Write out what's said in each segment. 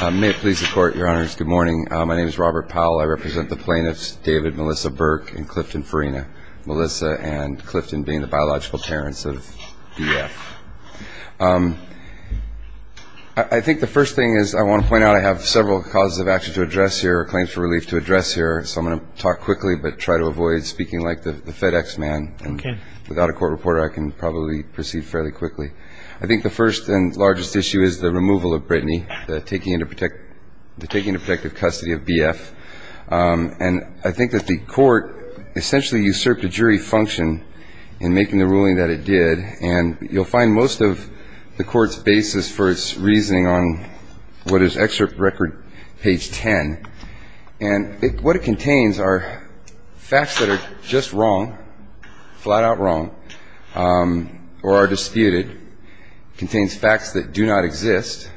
May it please the court, your honors, good morning. My name is Robert Powell. I represent the plaintiffs David, Melissa Burke, and Clifton Farina. Melissa and Clifton being the biological parents of DF. I think the first thing is I want to point out I have several causes of action to address here, claims for relief to address here, so I'm going to talk quickly but try to avoid speaking like the FedEx man. Without a court reporter, I can probably proceed fairly quickly. I think the first and largest issue is the removal of Brittany, the taking into protective custody of BF. And I think that the court essentially usurped a jury function in making the ruling that it did. And you'll find most of the court's basis for its reasoning on what is excerpt record page 10. And what it contains are facts that are just wrong, flat out wrong, or are disputed. It contains facts that do not exist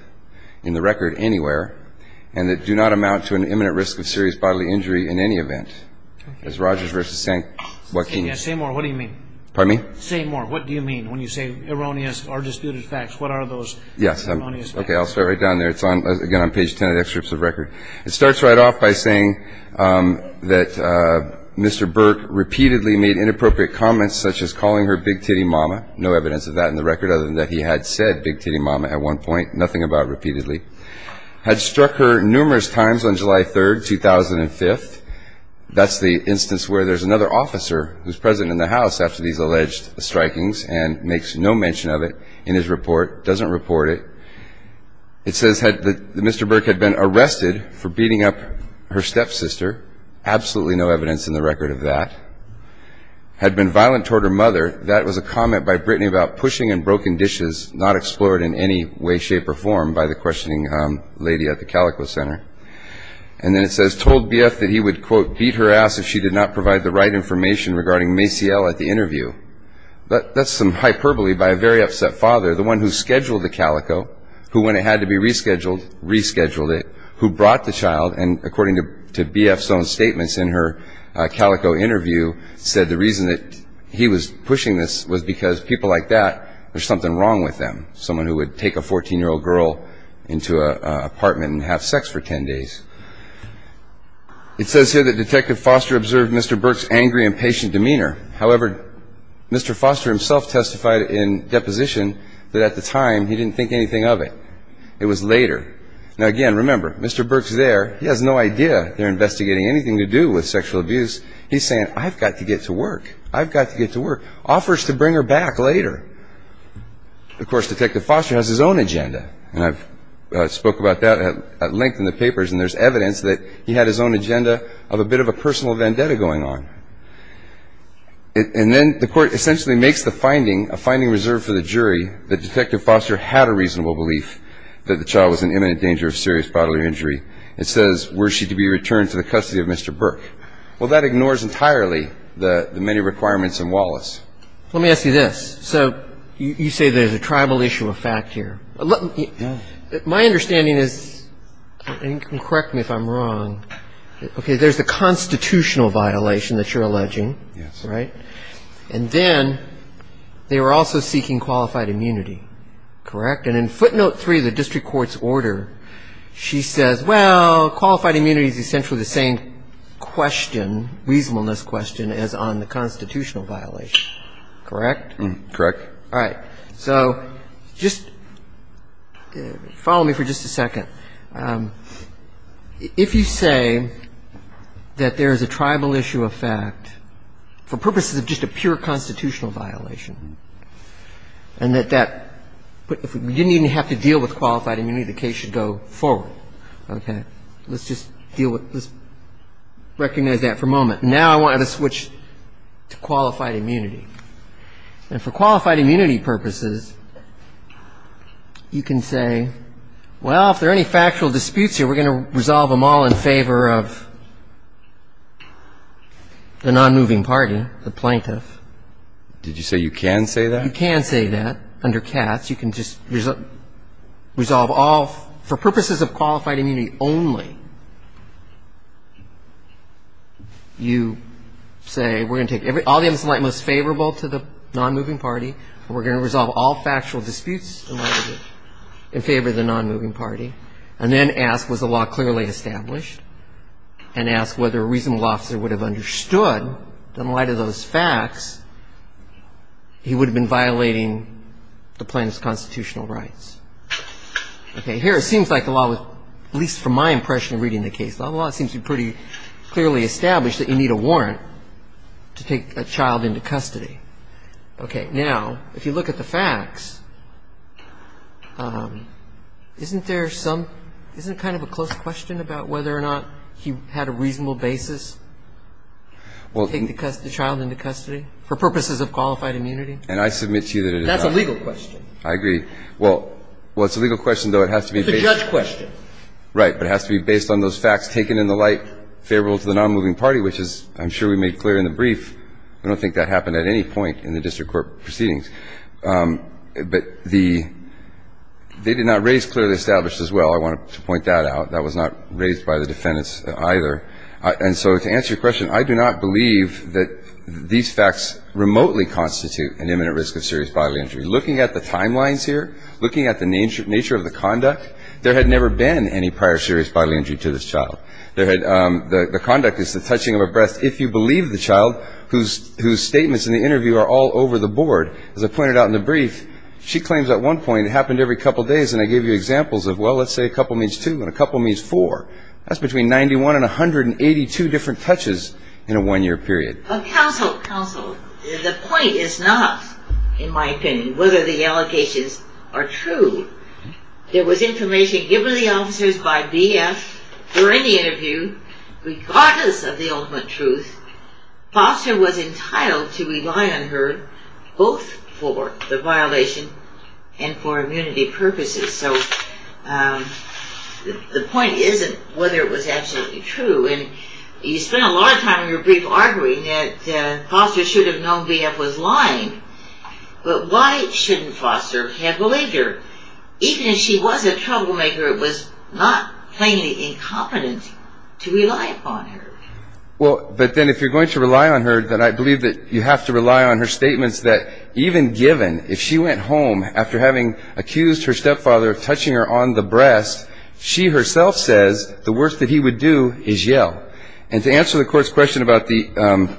in the record anywhere and that do not amount to an imminent risk of serious bodily injury in any event. As Rogers v. St. Joaquin. Say more. What do you mean? Pardon me? Say more. What do you mean when you say erroneous or disputed facts? What are those erroneous facts? Yes. Okay. I'll start right down there. It's again on page 10 of the excerpts of record. It starts right off by saying that Mr. Burke repeatedly made inappropriate comments such as calling her Big Titty Mama. No evidence of that in the record other than that he had said Big Titty Mama at one point, nothing about repeatedly. Had struck her numerous times on July 3rd, 2005. That's the instance where there's another officer who's present in the house after these alleged strikings and makes no mention of it in his report. Doesn't report it. It says that Mr. Burke had been arrested for beating up her stepsister. Absolutely no evidence in the record of that. Had been violent toward her mother. That was a comment by Brittany about pushing and broken dishes not explored in any way, shape, or form by the questioning lady at the Calico Center. And then it says told BF that he would, quote, beat her ass if she did not provide the right information regarding Maciel at the interview. That's some hyperbole by a very upset father, the one who scheduled the Calico, who when it had to be rescheduled, rescheduled it. Who brought the child and, according to BF's own statements in her Calico interview, said the reason that he was pushing this was because people like that, there's something wrong with them. Someone who would take a 14-year-old girl into an apartment and have sex for 10 days. It says here that Detective Foster observed Mr. Burke's angry, impatient demeanor. However, Mr. Foster himself testified in deposition that at the time he didn't think anything of it. It was later. Now, again, remember, Mr. Burke's there. He has no idea they're investigating anything to do with sexual abuse. He's saying, I've got to get to work. I've got to get to work. Offers to bring her back later. Of course, Detective Foster has his own agenda. And I've spoke about that at length in the papers. And there's evidence that he had his own agenda of a bit of a personal vendetta going on. And then the Court essentially makes the finding, a finding reserved for the jury, that Detective Foster had a reasonable belief that the child was in imminent danger of serious bodily injury. It says, were she to be returned to the custody of Mr. Burke. Well, that ignores entirely the many requirements in Wallace. Let me ask you this. So you say there's a tribal issue of fact here. My understanding is, and you can correct me if I'm wrong, okay, there's the constitutional violation that you're alleging. Yes. Right? And then they were also seeking qualified immunity. Correct? And in footnote three of the district court's order, she says, well, qualified immunity is essentially the same question, reasonableness question, as on the constitutional violation. Correct? Correct. All right. So just follow me for just a second. If you say that there is a tribal issue of fact, for purposes of just a pure constitutional violation, and that you didn't even have to deal with qualified immunity, the case should go forward. Okay? Let's just deal with, let's recognize that for a moment. Now I want to switch to qualified immunity. And for qualified immunity purposes, you can say, well, if there are any factual disputes here, we're going to resolve them all in favor of the nonmoving party, the plaintiff. Did you say you can say that? You can say that under cats. You can just resolve all for purposes of qualified immunity only. You say we're going to take all the evidence in light most favorable to the nonmoving party, and we're going to resolve all factual disputes in favor of the nonmoving party, and then ask, was the law clearly established, and ask whether a reasonable officer would have understood that in light of those facts, he would have been violating the plaintiff's constitutional rights. Okay. But here it seems like the law was, at least from my impression reading the case, the law seems to be pretty clearly established that you need a warrant to take a child into custody. Okay. Now, if you look at the facts, isn't there some, isn't it kind of a close question about whether or not he had a reasonable basis to take the child into custody for purposes of qualified immunity? And I submit to you that it is not. That's a legal question. I agree. Well, it's a legal question, though it has to be based on. It's a judge question. Right. But it has to be based on those facts taken in the light favorable to the nonmoving party, which is, I'm sure we made clear in the brief. I don't think that happened at any point in the district court proceedings. But the they did not raise clearly established as well. I wanted to point that out. That was not raised by the defendants either. And so to answer your question, I do not believe that these facts remotely constitute an imminent risk of serious bodily injury. Looking at the timelines here, looking at the nature of the conduct, there had never been any prior serious bodily injury to this child. The conduct is the touching of a breast. If you believe the child, whose statements in the interview are all over the board, as I pointed out in the brief, she claims at one point it happened every couple days. And I gave you examples of, well, let's say a couple means two and a couple means four. That's between 91 and 182 different touches in a one-year period. Counsel, the point is not, in my opinion, whether the allocations are true. There was information given to the officers by BF during the interview, regardless of the ultimate truth. Foster was entitled to rely on her both for the violation and for immunity purposes. So the point isn't whether it was absolutely true. And you spent a lot of time in your brief arguing that Foster should have known BF was lying. But why shouldn't Foster have believed her? Even if she was a troublemaker, it was not plainly incompetent to rely upon her. Well, but then if you're going to rely on her, then I believe that you have to rely on her statements that even given if she went home after having accused her stepfather of touching her on the breast, she herself says the worst that he would do is yell. And to answer the Court's question about the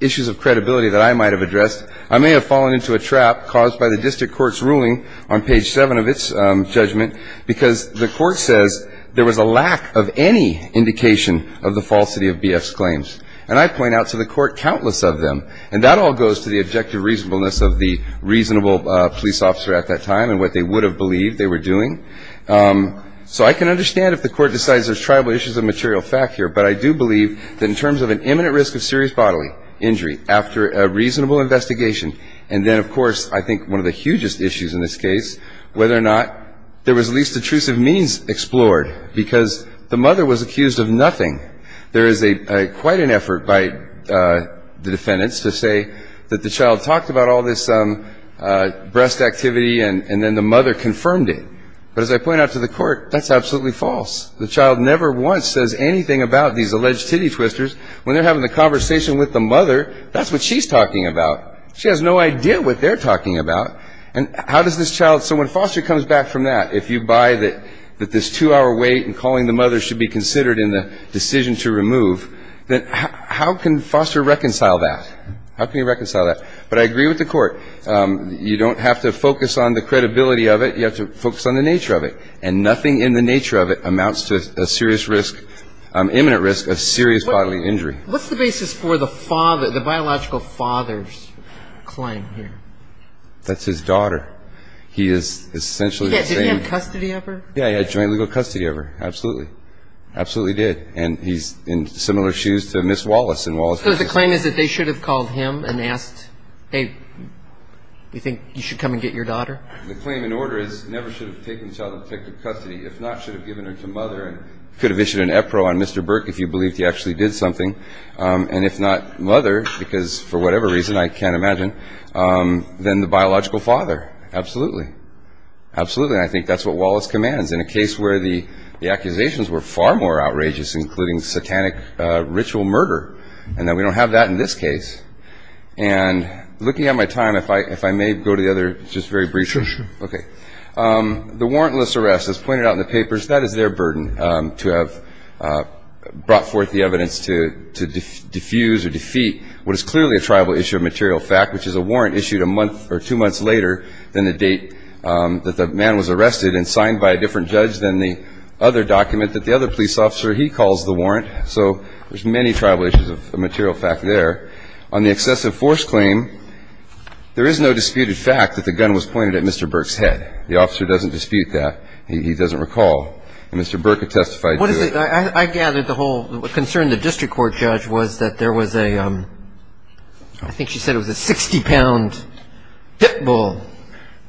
issues of credibility that I might have addressed, I may have fallen into a trap caused by the district court's ruling on page seven of its judgment because the court says there was a lack of any indication of the falsity of BF's claims. And I point out to the court countless of them, and that all goes to the objective reasonableness of the reasonable police officer at that time and what they would have believed they were doing. So I can understand if the court decides there's tribal issues of material fact here, but I do believe that in terms of an imminent risk of serious bodily injury after a reasonable investigation, and then, of course, I think one of the hugest issues in this case, whether or not there was least intrusive means explored because the mother was accused of nothing. There is quite an effort by the defendants to say that the child talked about all this breast activity and then the mother confirmed it. But as I point out to the court, that's absolutely false. The child never once says anything about these alleged titty twisters. When they're having the conversation with the mother, that's what she's talking about. She has no idea what they're talking about. And how does this child – so when Foster comes back from that, if you buy that this two-hour wait and calling the mother should be considered in the decision to remove, then how can Foster reconcile that? How can he reconcile that? But I agree with the court. You don't have to focus on the credibility of it. You have to focus on the nature of it. And nothing in the nature of it amounts to a serious risk, imminent risk of serious bodily injury. What's the basis for the biological father's claim here? That's his daughter. He is essentially the same. Did he have custody of her? Yeah, he had joint legal custody of her. Absolutely. Absolutely did. And he's in similar shoes to Ms. Wallace. So the claim is that they should have called him and asked, hey, you think you should come and get your daughter? The claim in order is never should have taken the child in protective custody. If not, should have given her to mother and could have issued an EPRO on Mr. Burke if you believed he actually did something. And if not mother, because for whatever reason, I can't imagine, then the biological father. Absolutely. Absolutely. And I think that's what Wallace commands. In a case where the accusations were far more outrageous, including satanic ritual murder. And we don't have that in this case. And looking at my time, if I may go to the other just very briefly. Sure, sure. Okay. The warrantless arrest, as pointed out in the papers, that is their burden to have brought forth the evidence to diffuse or defeat what is clearly a tribal issue of material fact, which is a warrant issued a month or two months later than the date that the man was arrested and signed by a different judge than the other document that the other police officer, he calls the warrant. So there's many tribal issues of material fact there. On the excessive force claim, there is no disputed fact that the gun was pointed at Mr. Burke's head. The officer doesn't dispute that. He doesn't recall. And Mr. Burke had testified to it. I gather the whole concern of the district court judge was that there was a, I think she said it was a 60-pound pit bull.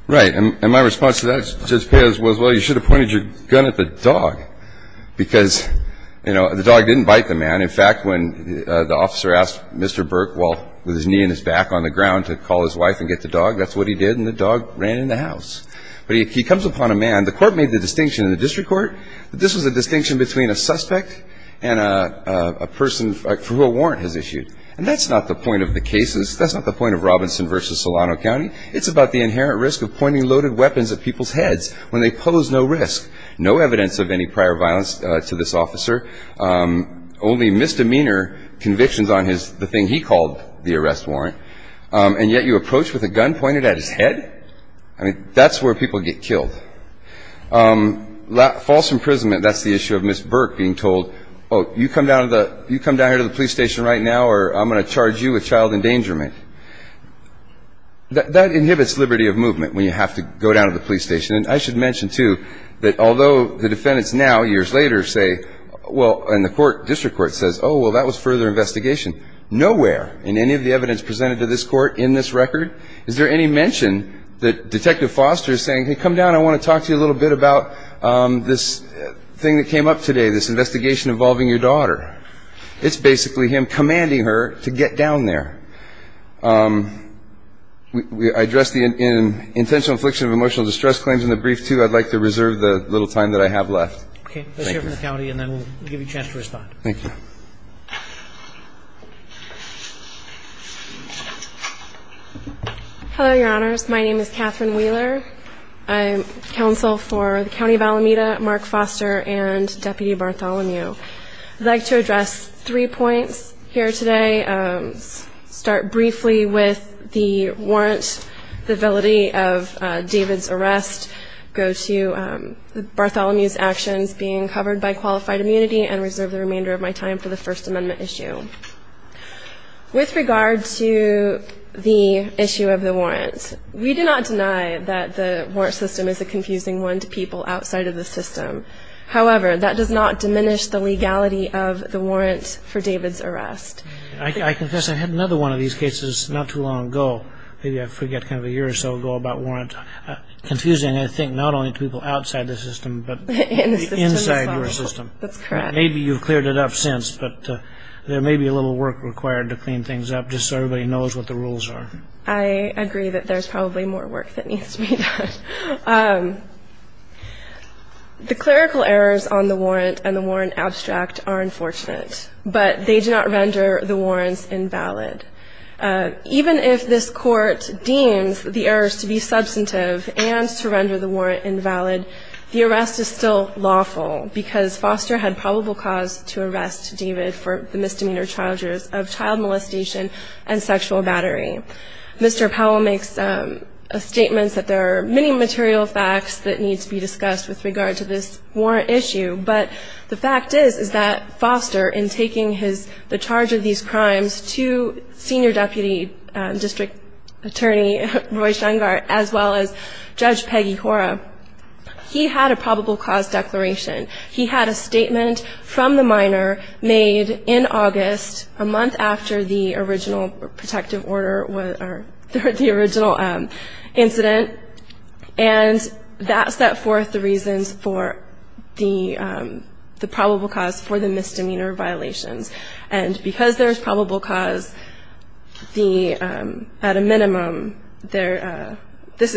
Right. And my response to that, Judge Peoz, was, well, you should have pointed your gun at the dog. Because, you know, the dog didn't bite the man. In fact, when the officer asked Mr. Burke, while with his knee and his back on the ground, to call his wife and get the dog, that's what he did, and the dog ran in the house. But he comes upon a man. The court made the distinction in the district court that this was a distinction between a suspect and a person for who a warrant has issued. And that's not the point of the cases. That's not the point of Robinson v. Solano County. It's about the inherent risk of pointing loaded weapons at people's heads when they pose no risk, no evidence of any prior violence to this officer, only misdemeanor convictions on his, the thing he called the arrest warrant. And yet you approach with a gun pointed at his head? I mean, that's where people get killed. False imprisonment, that's the issue of Ms. Burke being told, oh, you come down to the, the police station right now or I'm going to charge you with child endangerment. That inhibits liberty of movement when you have to go down to the police station. And I should mention, too, that although the defendants now, years later, say, well, and the court, district court says, oh, well, that was further investigation. Nowhere in any of the evidence presented to this court in this record is there any mention that Detective Foster is saying, hey, come down, I want to talk to you a little bit about this thing that came up today, this investigation involving your daughter. It's basically him commanding her to get down there. I addressed the intentional infliction of emotional distress claims in the brief, too. I'd like to reserve the little time that I have left. Okay. Thank you. Let's hear from the county and then we'll give you a chance to respond. Thank you. Hello, Your Honors. My name is Catherine Wheeler. I'm counsel for the County of Alameda, Mark Foster, and Deputy Bartholomew. I'd like to address three points here today. I'll start briefly with the warrant, the validity of David's arrest, go to Bartholomew's actions being covered by qualified immunity, and reserve the remainder of my time for the First Amendment issue. With regard to the issue of the warrant, we do not deny that the warrant system is a confusing one to people outside of the system. However, that does not diminish the legality of the warrant for David's arrest. I confess I had another one of these cases not too long ago. Maybe I forget, kind of a year or so ago, about warrant. Confusing, I think, not only to people outside the system but inside your system. That's correct. Maybe you've cleared it up since, but there may be a little work required to clean things up just so everybody knows what the rules are. I agree that there's probably more work that needs to be done. The clerical errors on the warrant and the warrant abstract are unfortunate, but they do not render the warrants invalid. Even if this Court deems the errors to be substantive and to render the warrant invalid, the arrest is still lawful because Foster had probable cause to arrest David for the misdemeanor charges of child molestation and sexual battery. Mr. Powell makes a statement that there are many material facts that need to be discussed with regard to this warrant issue, but the fact is, is that Foster, in taking the charge of these crimes to Senior Deputy District Attorney Roy Shungart, as well as Judge Peggy Hora, he had a probable cause declaration. He had a statement from the minor made in August, a month after the original protective order, or the original incident, and that set forth the reasons for the probable cause for the misdemeanor violations. And because there's probable cause, at a minimum, this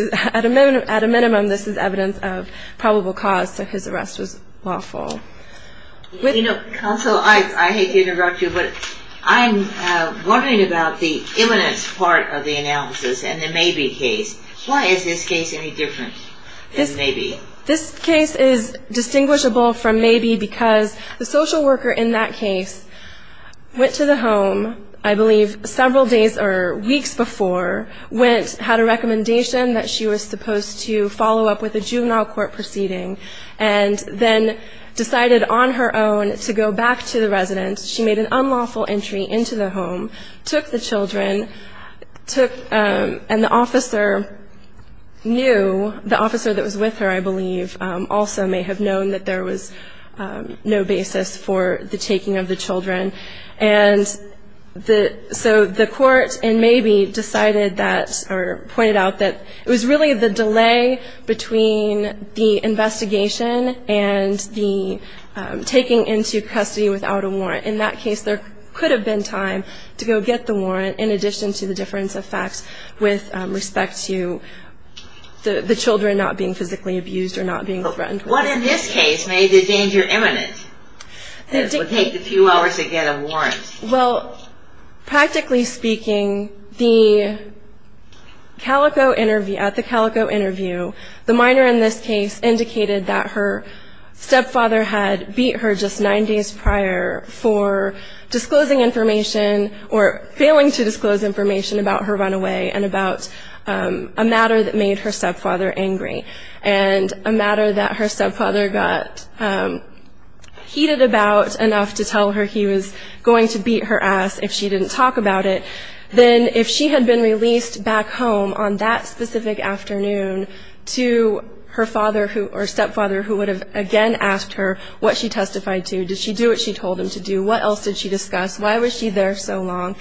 is evidence of probable cause, so his arrest was lawful. Counsel, I hate to interrupt you, but I'm wondering about the evidence part of the analysis in the Mabee case. Why is this case any different than Mabee? This case is distinguishable from Mabee because the social worker in that case went to the home, I believe, several days or weeks before, went, had a recommendation that she was supposed to follow up with a juvenile court proceeding, and then decided on her own to go back to the residence. She made an unlawful entry into the home, took the children, took, and the officer knew, the officer that was with her, I believe, also may have known that there was no basis for the taking of the children. And so the court in Mabee decided that, or pointed out that it was really the delay between the investigation and the taking into custody without a warrant. In that case, there could have been time to go get the warrant in addition to the difference of facts with respect to the children not being physically abused or not being threatened. What in this case made the danger imminent? It would take a few hours to get a warrant. Well, practically speaking, the Calico interview, at the Calico interview, the minor in this case indicated that her stepfather had beat her just nine days prior for disclosing information or failing to disclose information about her runaway and about a matter that made her stepfather angry and a matter that her stepfather got heated about enough to tell her he was going to beat her ass if she didn't talk about it. Then if she had been released back home on that specific afternoon to her father or stepfather who would have again asked her what she testified to, did she do what she told him to do, what else did she discuss, why was she there so long,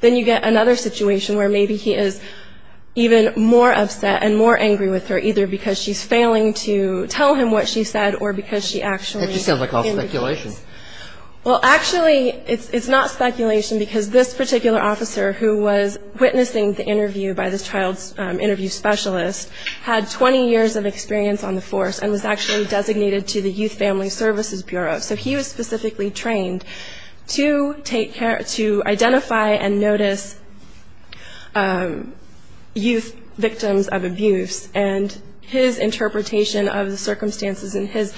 then you get another situation where maybe he is even more upset and more angry with her either because she's failing to tell him what she said or because she actually ---- That just sounds like all speculation. Well, actually, it's not speculation because this particular officer who was witnessing the interview by this child's interview specialist had 20 years of experience on the force and was actually designated to the Youth Family Services Bureau. So he was specifically trained to take care, to identify and notice youth victims of abuse and his interpretation of the circumstances and his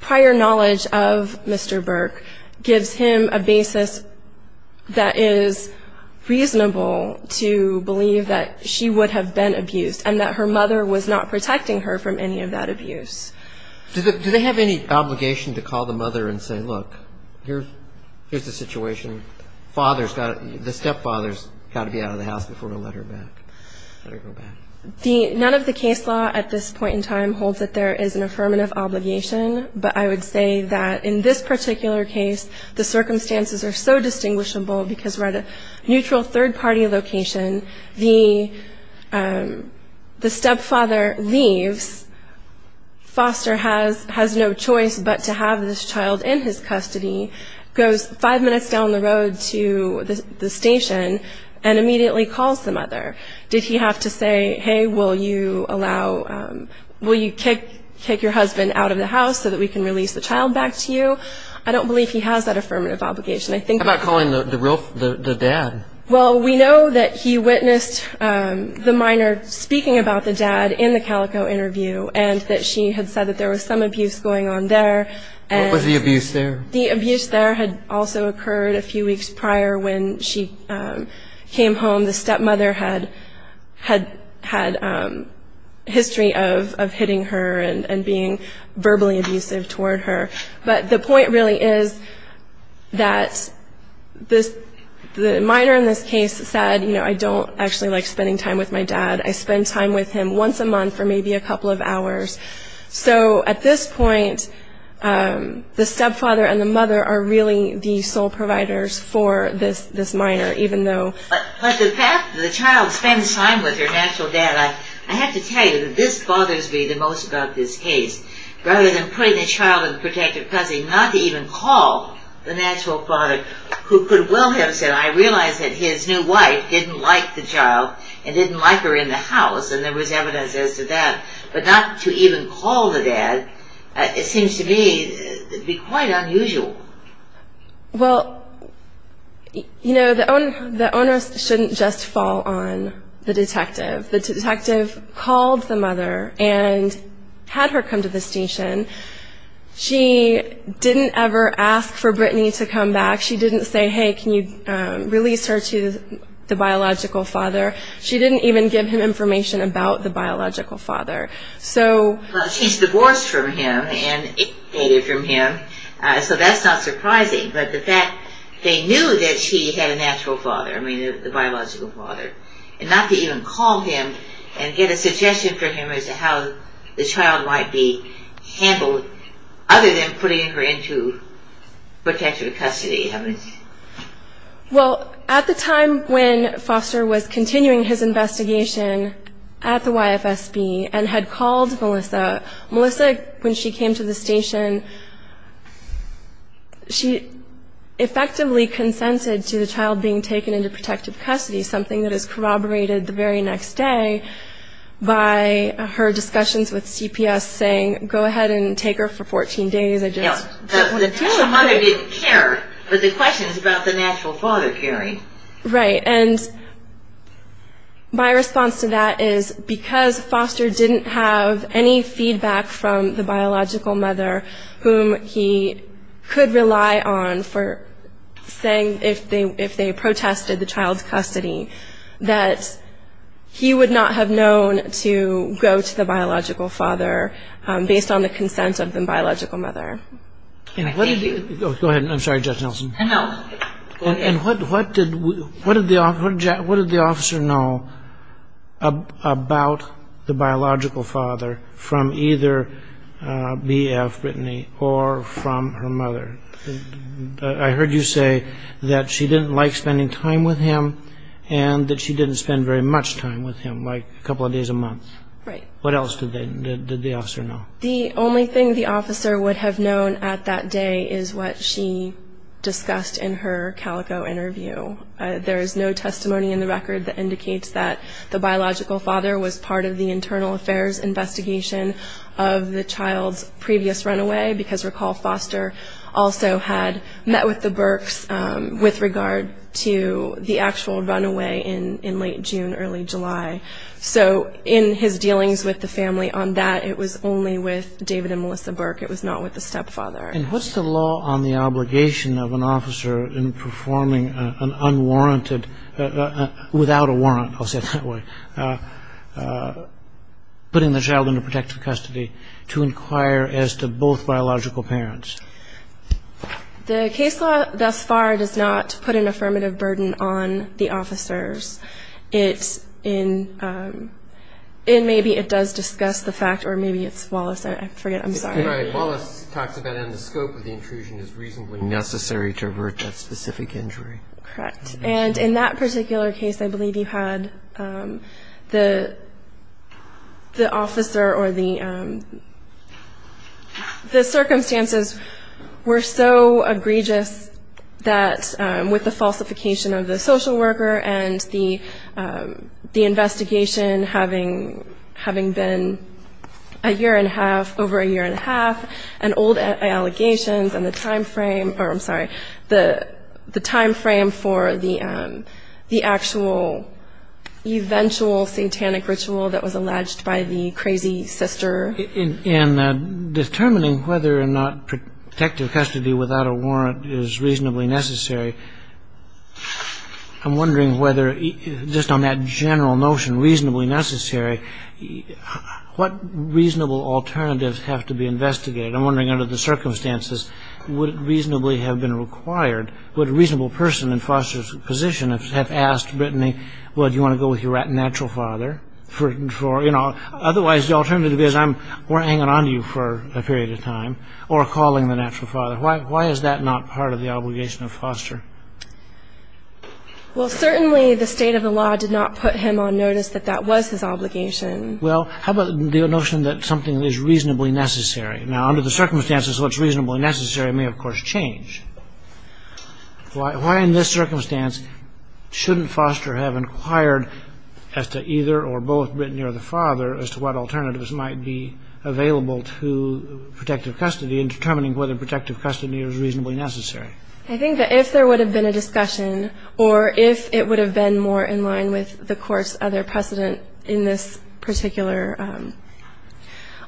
prior knowledge of Mr. Burke gives him a basis that is reasonable to believe that she would have been abused and that her mother was not protecting her from any of that abuse. Do they have any obligation to call the mother and say, look, here's the situation, the stepfather's got to be out of the house before we'll let her back, let her go back? None of the case law at this point in time holds that there is an affirmative obligation, but I would say that in this particular case the circumstances are so distinguishable because we're at a neutral third-party location. The stepfather leaves. Foster has no choice but to have this child in his custody, goes five minutes down the road to the station and immediately calls the mother. Did he have to say, hey, will you kick your husband out of the house so that we can release the child back to you? I don't believe he has that affirmative obligation. How about calling the dad? Well, we know that he witnessed the minor speaking about the dad in the Calico interview and that she had said that there was some abuse going on there. What was the abuse there? The abuse there had also occurred a few weeks prior when she came home. The stepmother had history of hitting her and being verbally abusive toward her. But the point really is that the minor in this case said, you know, I don't actually like spending time with my dad. I spend time with him once a month for maybe a couple of hours. So at this point, the stepfather and the mother are really the sole providers for this minor, even though. But the fact that the child spends time with her natural dad, I have to tell you that this bothers me the most about this case. Rather than putting the child in protective cousin, not even call the natural father, who could well have said, I realize that his new wife didn't like the child and didn't like her in the house, and there was evidence as to that. But not to even call the dad, it seems to me to be quite unusual. Well, you know, the onus shouldn't just fall on the detective. The detective called the mother and had her come to the station. She didn't ever ask for Brittany to come back. She didn't say, hey, can you release her to the biological father. She didn't even give him information about the biological father. So she's divorced from him and it faded from him, so that's not surprising. But the fact they knew that she had a natural father, I mean, the biological father, and not to even call him and get a suggestion from him as to how the child might be handled other than putting her into protective custody. Well, at the time when Foster was continuing his investigation at the YFSB and had called Melissa, Melissa, when she came to the station, she effectively consented to the child being taken into protective custody, something that is corroborated the very next day by her discussions with CPS saying, go ahead and take her for 14 days. The mother didn't care, but the question is about the natural father, Carrie. Right. And my response to that is because Foster didn't have any feedback from the biological mother whom he could rely on for saying if they protested the child's custody that he would not have known to go to the biological father based on the consent of the biological mother. Go ahead, I'm sorry, Judge Nelson. No. And what did the officer know about the biological father from either BF Brittany or from her mother? I heard you say that she didn't like spending time with him and that she didn't spend very much time with him, like a couple of days a month. Right. What else did the officer know? The only thing the officer would have known at that day is what she discussed in her Calico interview. There is no testimony in the record that indicates that the biological father was part of the internal affairs investigation of the child's previous runaway because recall Foster also had met with the Burks with regard to the actual runaway in late June, early July. So in his dealings with the family on that, it was only with David and Melissa Burke, it was not with the stepfather. And what's the law on the obligation of an officer in performing an unwarranted, without a warrant, I'll say it that way, putting the child under protective custody to inquire as to both biological parents? The case law thus far does not put an affirmative burden on the officers. Maybe it does discuss the fact, or maybe it's Wallace, I forget, I'm sorry. Right. Wallace talks about the scope of the intrusion is reasonably necessary to avert that specific injury. Correct. And in that particular case, I believe you had the officer or the circumstances were so egregious that with the falsification of the social worker and the investigation having been a year and a half, over a year and a half, and old allegations and the time frame, or I'm sorry, the time frame for the actual eventual satanic ritual that was alleged by the crazy sister. In determining whether or not protective custody without a warrant is reasonably necessary, I'm wondering whether just on that general notion, reasonably necessary, what reasonable alternatives have to be investigated? I'm wondering under the circumstances, would it reasonably have been required? Would a reasonable person in Foster's position have asked Brittany, well, do you want to go with your natural father? Otherwise, the alternative is we're hanging on to you for a period of time or calling the natural father. Why is that not part of the obligation of Foster? Well, certainly the state of the law did not put him on notice that that was his obligation. Well, how about the notion that something is reasonably necessary? Now, under the circumstances, what's reasonably necessary may, of course, change. Why in this circumstance shouldn't Foster have inquired as to either or both Brittany or the father as to what alternatives might be available to protective custody in determining whether protective custody is reasonably necessary? I think that if there would have been a discussion, or if it would have been more in line with the court's other precedent in this particular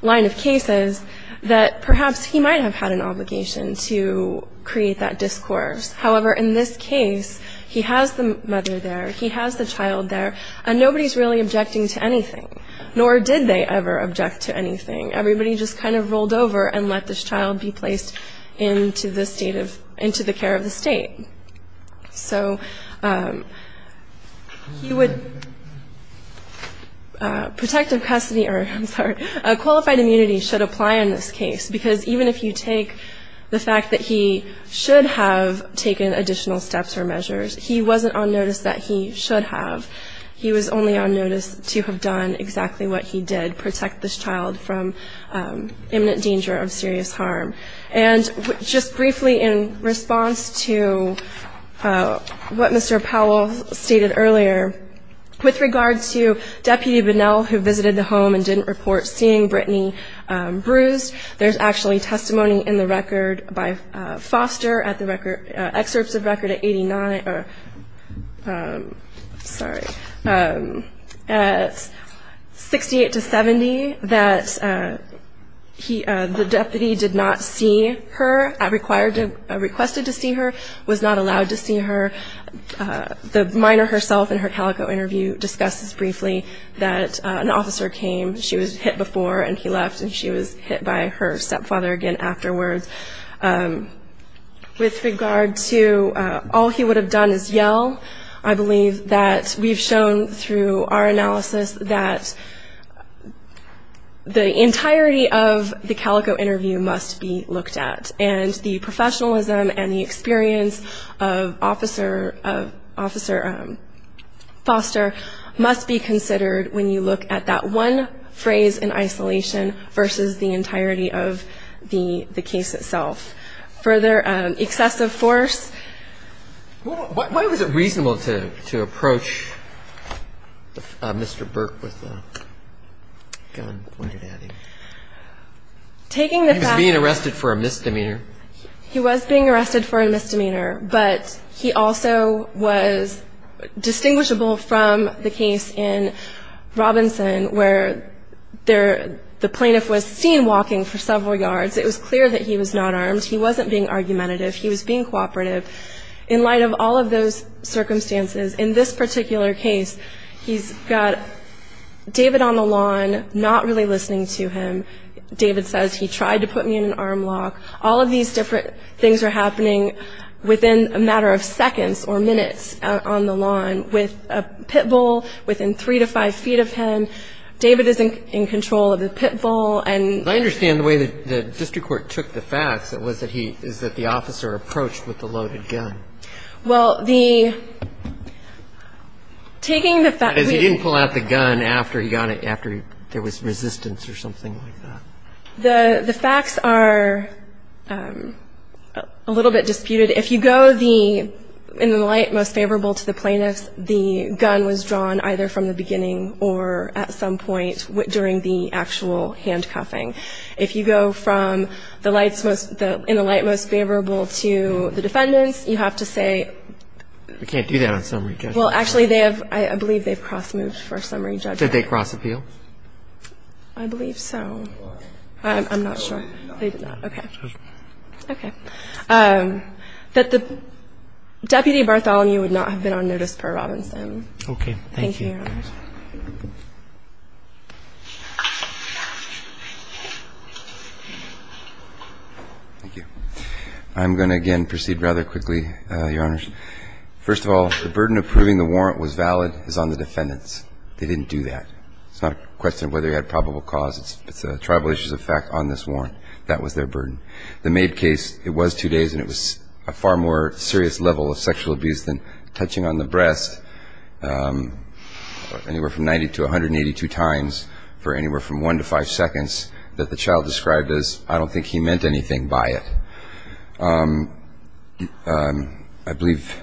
line of cases, that perhaps he might have had an obligation to create that discourse. However, in this case, he has the mother there, he has the child there, and nobody's really objecting to anything, nor did they ever object to anything. Everybody just kind of rolled over and let this child be placed into the care of the state. So he would, protective custody, or I'm sorry, qualified immunity should apply in this case, because even if you take the fact that he should have taken additional steps or measures, he wasn't on notice that he should have. He was only on notice to have done exactly what he did, protect this child from imminent danger of serious harm. And just briefly in response to what Mr. Powell stated earlier, with regard to Deputy Bunnell, who visited the home and didn't report seeing Brittany bruised, there's actually testimony in the record by Foster at the record, excerpts of record at 89, sorry, at 68 to 70, that the deputy did not see Brittany bruised. Did not see her, requested to see her, was not allowed to see her. The minor herself in her Calico interview discusses briefly that an officer came, she was hit before and he left, and she was hit by her stepfather again afterwards. With regard to all he would have done is yell, I believe that we've shown through our analysis that the entirety of the Calico interview must be looked at and the professionalism and the experience of Officer Foster must be considered when you look at that one phrase in isolation versus the entirety of the case itself. Further, excessive force. Why was it reasonable to approach Mr. Burke with a gun pointed at him? He was being arrested for a misdemeanor. He was being arrested for a misdemeanor, but he also was distinguishable from the case in Robinson where the plaintiff was seen walking for several yards. It was clear that he was not armed. He wasn't being argumentative. He was being cooperative. In light of all of those circumstances, in this particular case, he's got David on the lawn, not really listening to him. David says he tried to put me in an arm lock. All of these different things are happening within a matter of seconds or minutes on the lawn with a pit bull within three to five feet of him. David is in control of the pit bull. I understand the way the district court took the facts is that the officer approached with the loaded gun. Well, the ‑‑ That is, he didn't pull out the gun after there was resistance or something like that. The facts are a little bit disputed. If you go in the light most favorable to the plaintiffs, the gun was drawn either from the beginning or at some point during the actual handcuffing. If you go in the light most favorable to the defendants, you have to say ‑‑ You can't do that on summary judgment. Well, actually, I believe they have cross‑moved for summary judgment. Did they cross appeal? I believe so. I'm not sure. They did not. Okay. Okay. That the deputy Bartholomew would not have been on notice per Robinson. Okay. Thank you. Thank you. I'm going to, again, proceed rather quickly, Your Honors. First of all, the burden of proving the warrant was valid is on the defendants. They didn't do that. It's not a question of whether he had probable cause. It's a tribal issue of fact on this warrant. That was their burden. The maid case, it was two days and it was a far more serious level of sexual abuse than touching on the breast. Anywhere from 90 to 182 times for anywhere from one to five seconds that the child described as, I don't think he meant anything by it. I believe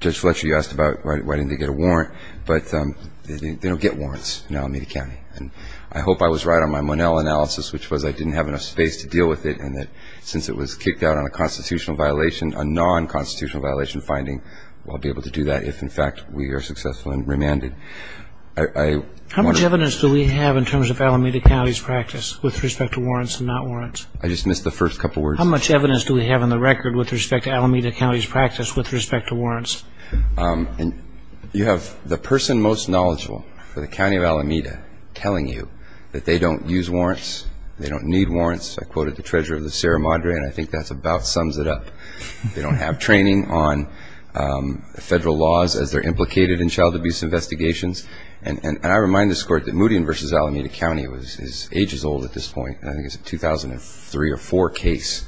Judge Fletcher, you asked about why didn't they get a warrant. But they don't get warrants in Alameda County. And I hope I was right on my Monell analysis, which was I didn't have enough space to deal with it, and that since it was kicked out on a constitutional violation, a non-constitutional violation finding, I'll be able to do that if, in fact, we are successful and remanded. How much evidence do we have in terms of Alameda County's practice with respect to warrants and not warrants? I just missed the first couple words. How much evidence do we have on the record with respect to Alameda County's practice with respect to warrants? You have the person most knowledgeable for the County of Alameda telling you that they don't use warrants. They don't need warrants. I quoted the treasurer of the Sierra Madre, and I think that about sums it up. They don't have training on federal laws as they're implicated in child abuse investigations. And I remind this Court that Moody v. Alameda County is ages old at this point. I think it's a 2003 or 2004 case.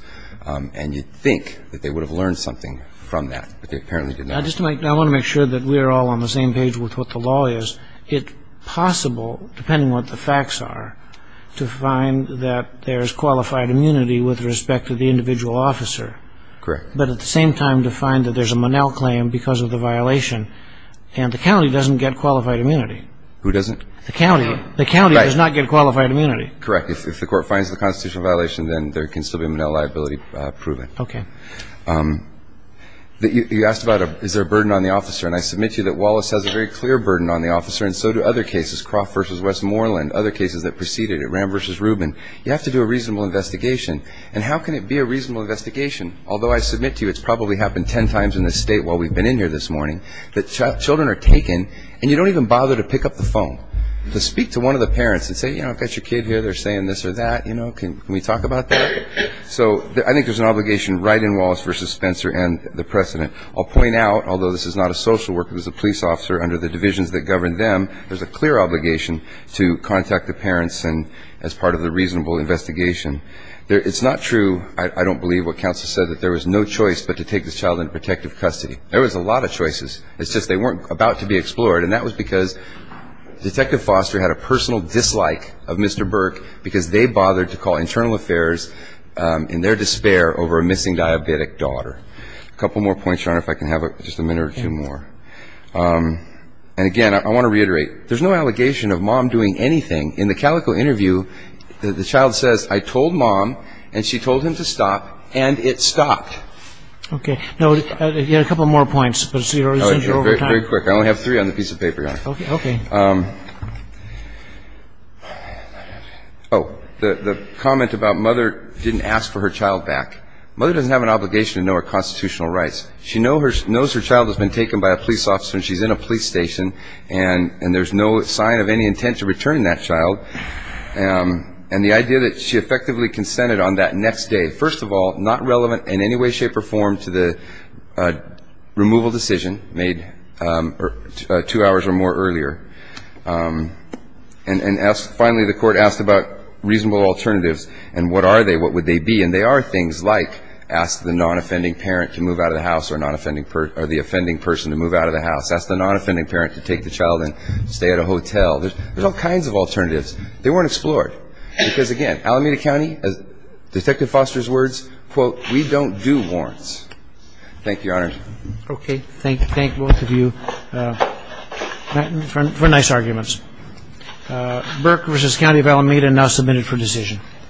And you'd think that they would have learned something from that, but they apparently did not. I just want to make sure that we're all on the same page with what the law is. It's possible, depending on what the facts are, to find that there's qualified immunity with respect to the individual officer. Correct. But at the same time to find that there's a Monell claim because of the violation, and the county doesn't get qualified immunity. Who doesn't? The county. The county does not get qualified immunity. Correct. If the Court finds the constitutional violation, then there can still be a Monell liability proven. Okay. You asked about is there a burden on the officer, and I submit to you that Wallace has a very clear burden on the officer, and so do other cases, Croft v. Westmoreland, other cases that preceded it, Ram v. Rubin. You have to do a reasonable investigation. And how can it be a reasonable investigation? Although I submit to you it's probably happened ten times in this state while we've been in here this morning, that children are taken and you don't even bother to pick up the phone to speak to one of the parents and say, you know, I've got your kid here, they're saying this or that, you know, can we talk about that? So I think there's an obligation right in Wallace v. Spencer and the precedent. I'll point out, although this is not a social worker, this is a police officer, under the divisions that govern them there's a clear obligation to contact the parents as part of the reasonable investigation. It's not true, I don't believe what counsel said, that there was no choice but to take this child into protective custody. There was a lot of choices. It's just they weren't about to be explored, and that was because Detective Foster had a personal dislike of Mr. Burke because they bothered to call internal affairs in their despair over a missing diabetic daughter. A couple more points, Your Honor, if I can have just a minute or two more. And again, I want to reiterate, there's no allegation of Mom doing anything. In the Calico interview, the child says, I told Mom, and she told him to stop, and it stopped. Okay. Now, a couple more points. Very quick, I only have three on the piece of paper, Your Honor. Okay. Oh, the comment about Mother didn't ask for her child back. Mother doesn't have an obligation to know her constitutional rights. She knows her child has been taken by a police officer and she's in a police station, and there's no sign of any intent to returning that child. And the idea that she effectively consented on that next day, first of all, not relevant in any way, shape, or form to the removal decision made two hours or more earlier. And finally, the court asked about reasonable alternatives, and what are they? What would they be? And they are things like ask the non-offending parent to move out of the house or the offending person to move out of the house. Ask the non-offending parent to take the child and stay at a hotel. There's all kinds of alternatives. They weren't explored. Because, again, Alameda County, as Detective Foster's words, quote, we don't do warrants. Thank you, Your Honor. Okay. Thank both of you for nice arguments. Burke v. County of Alameda now submitted for decision.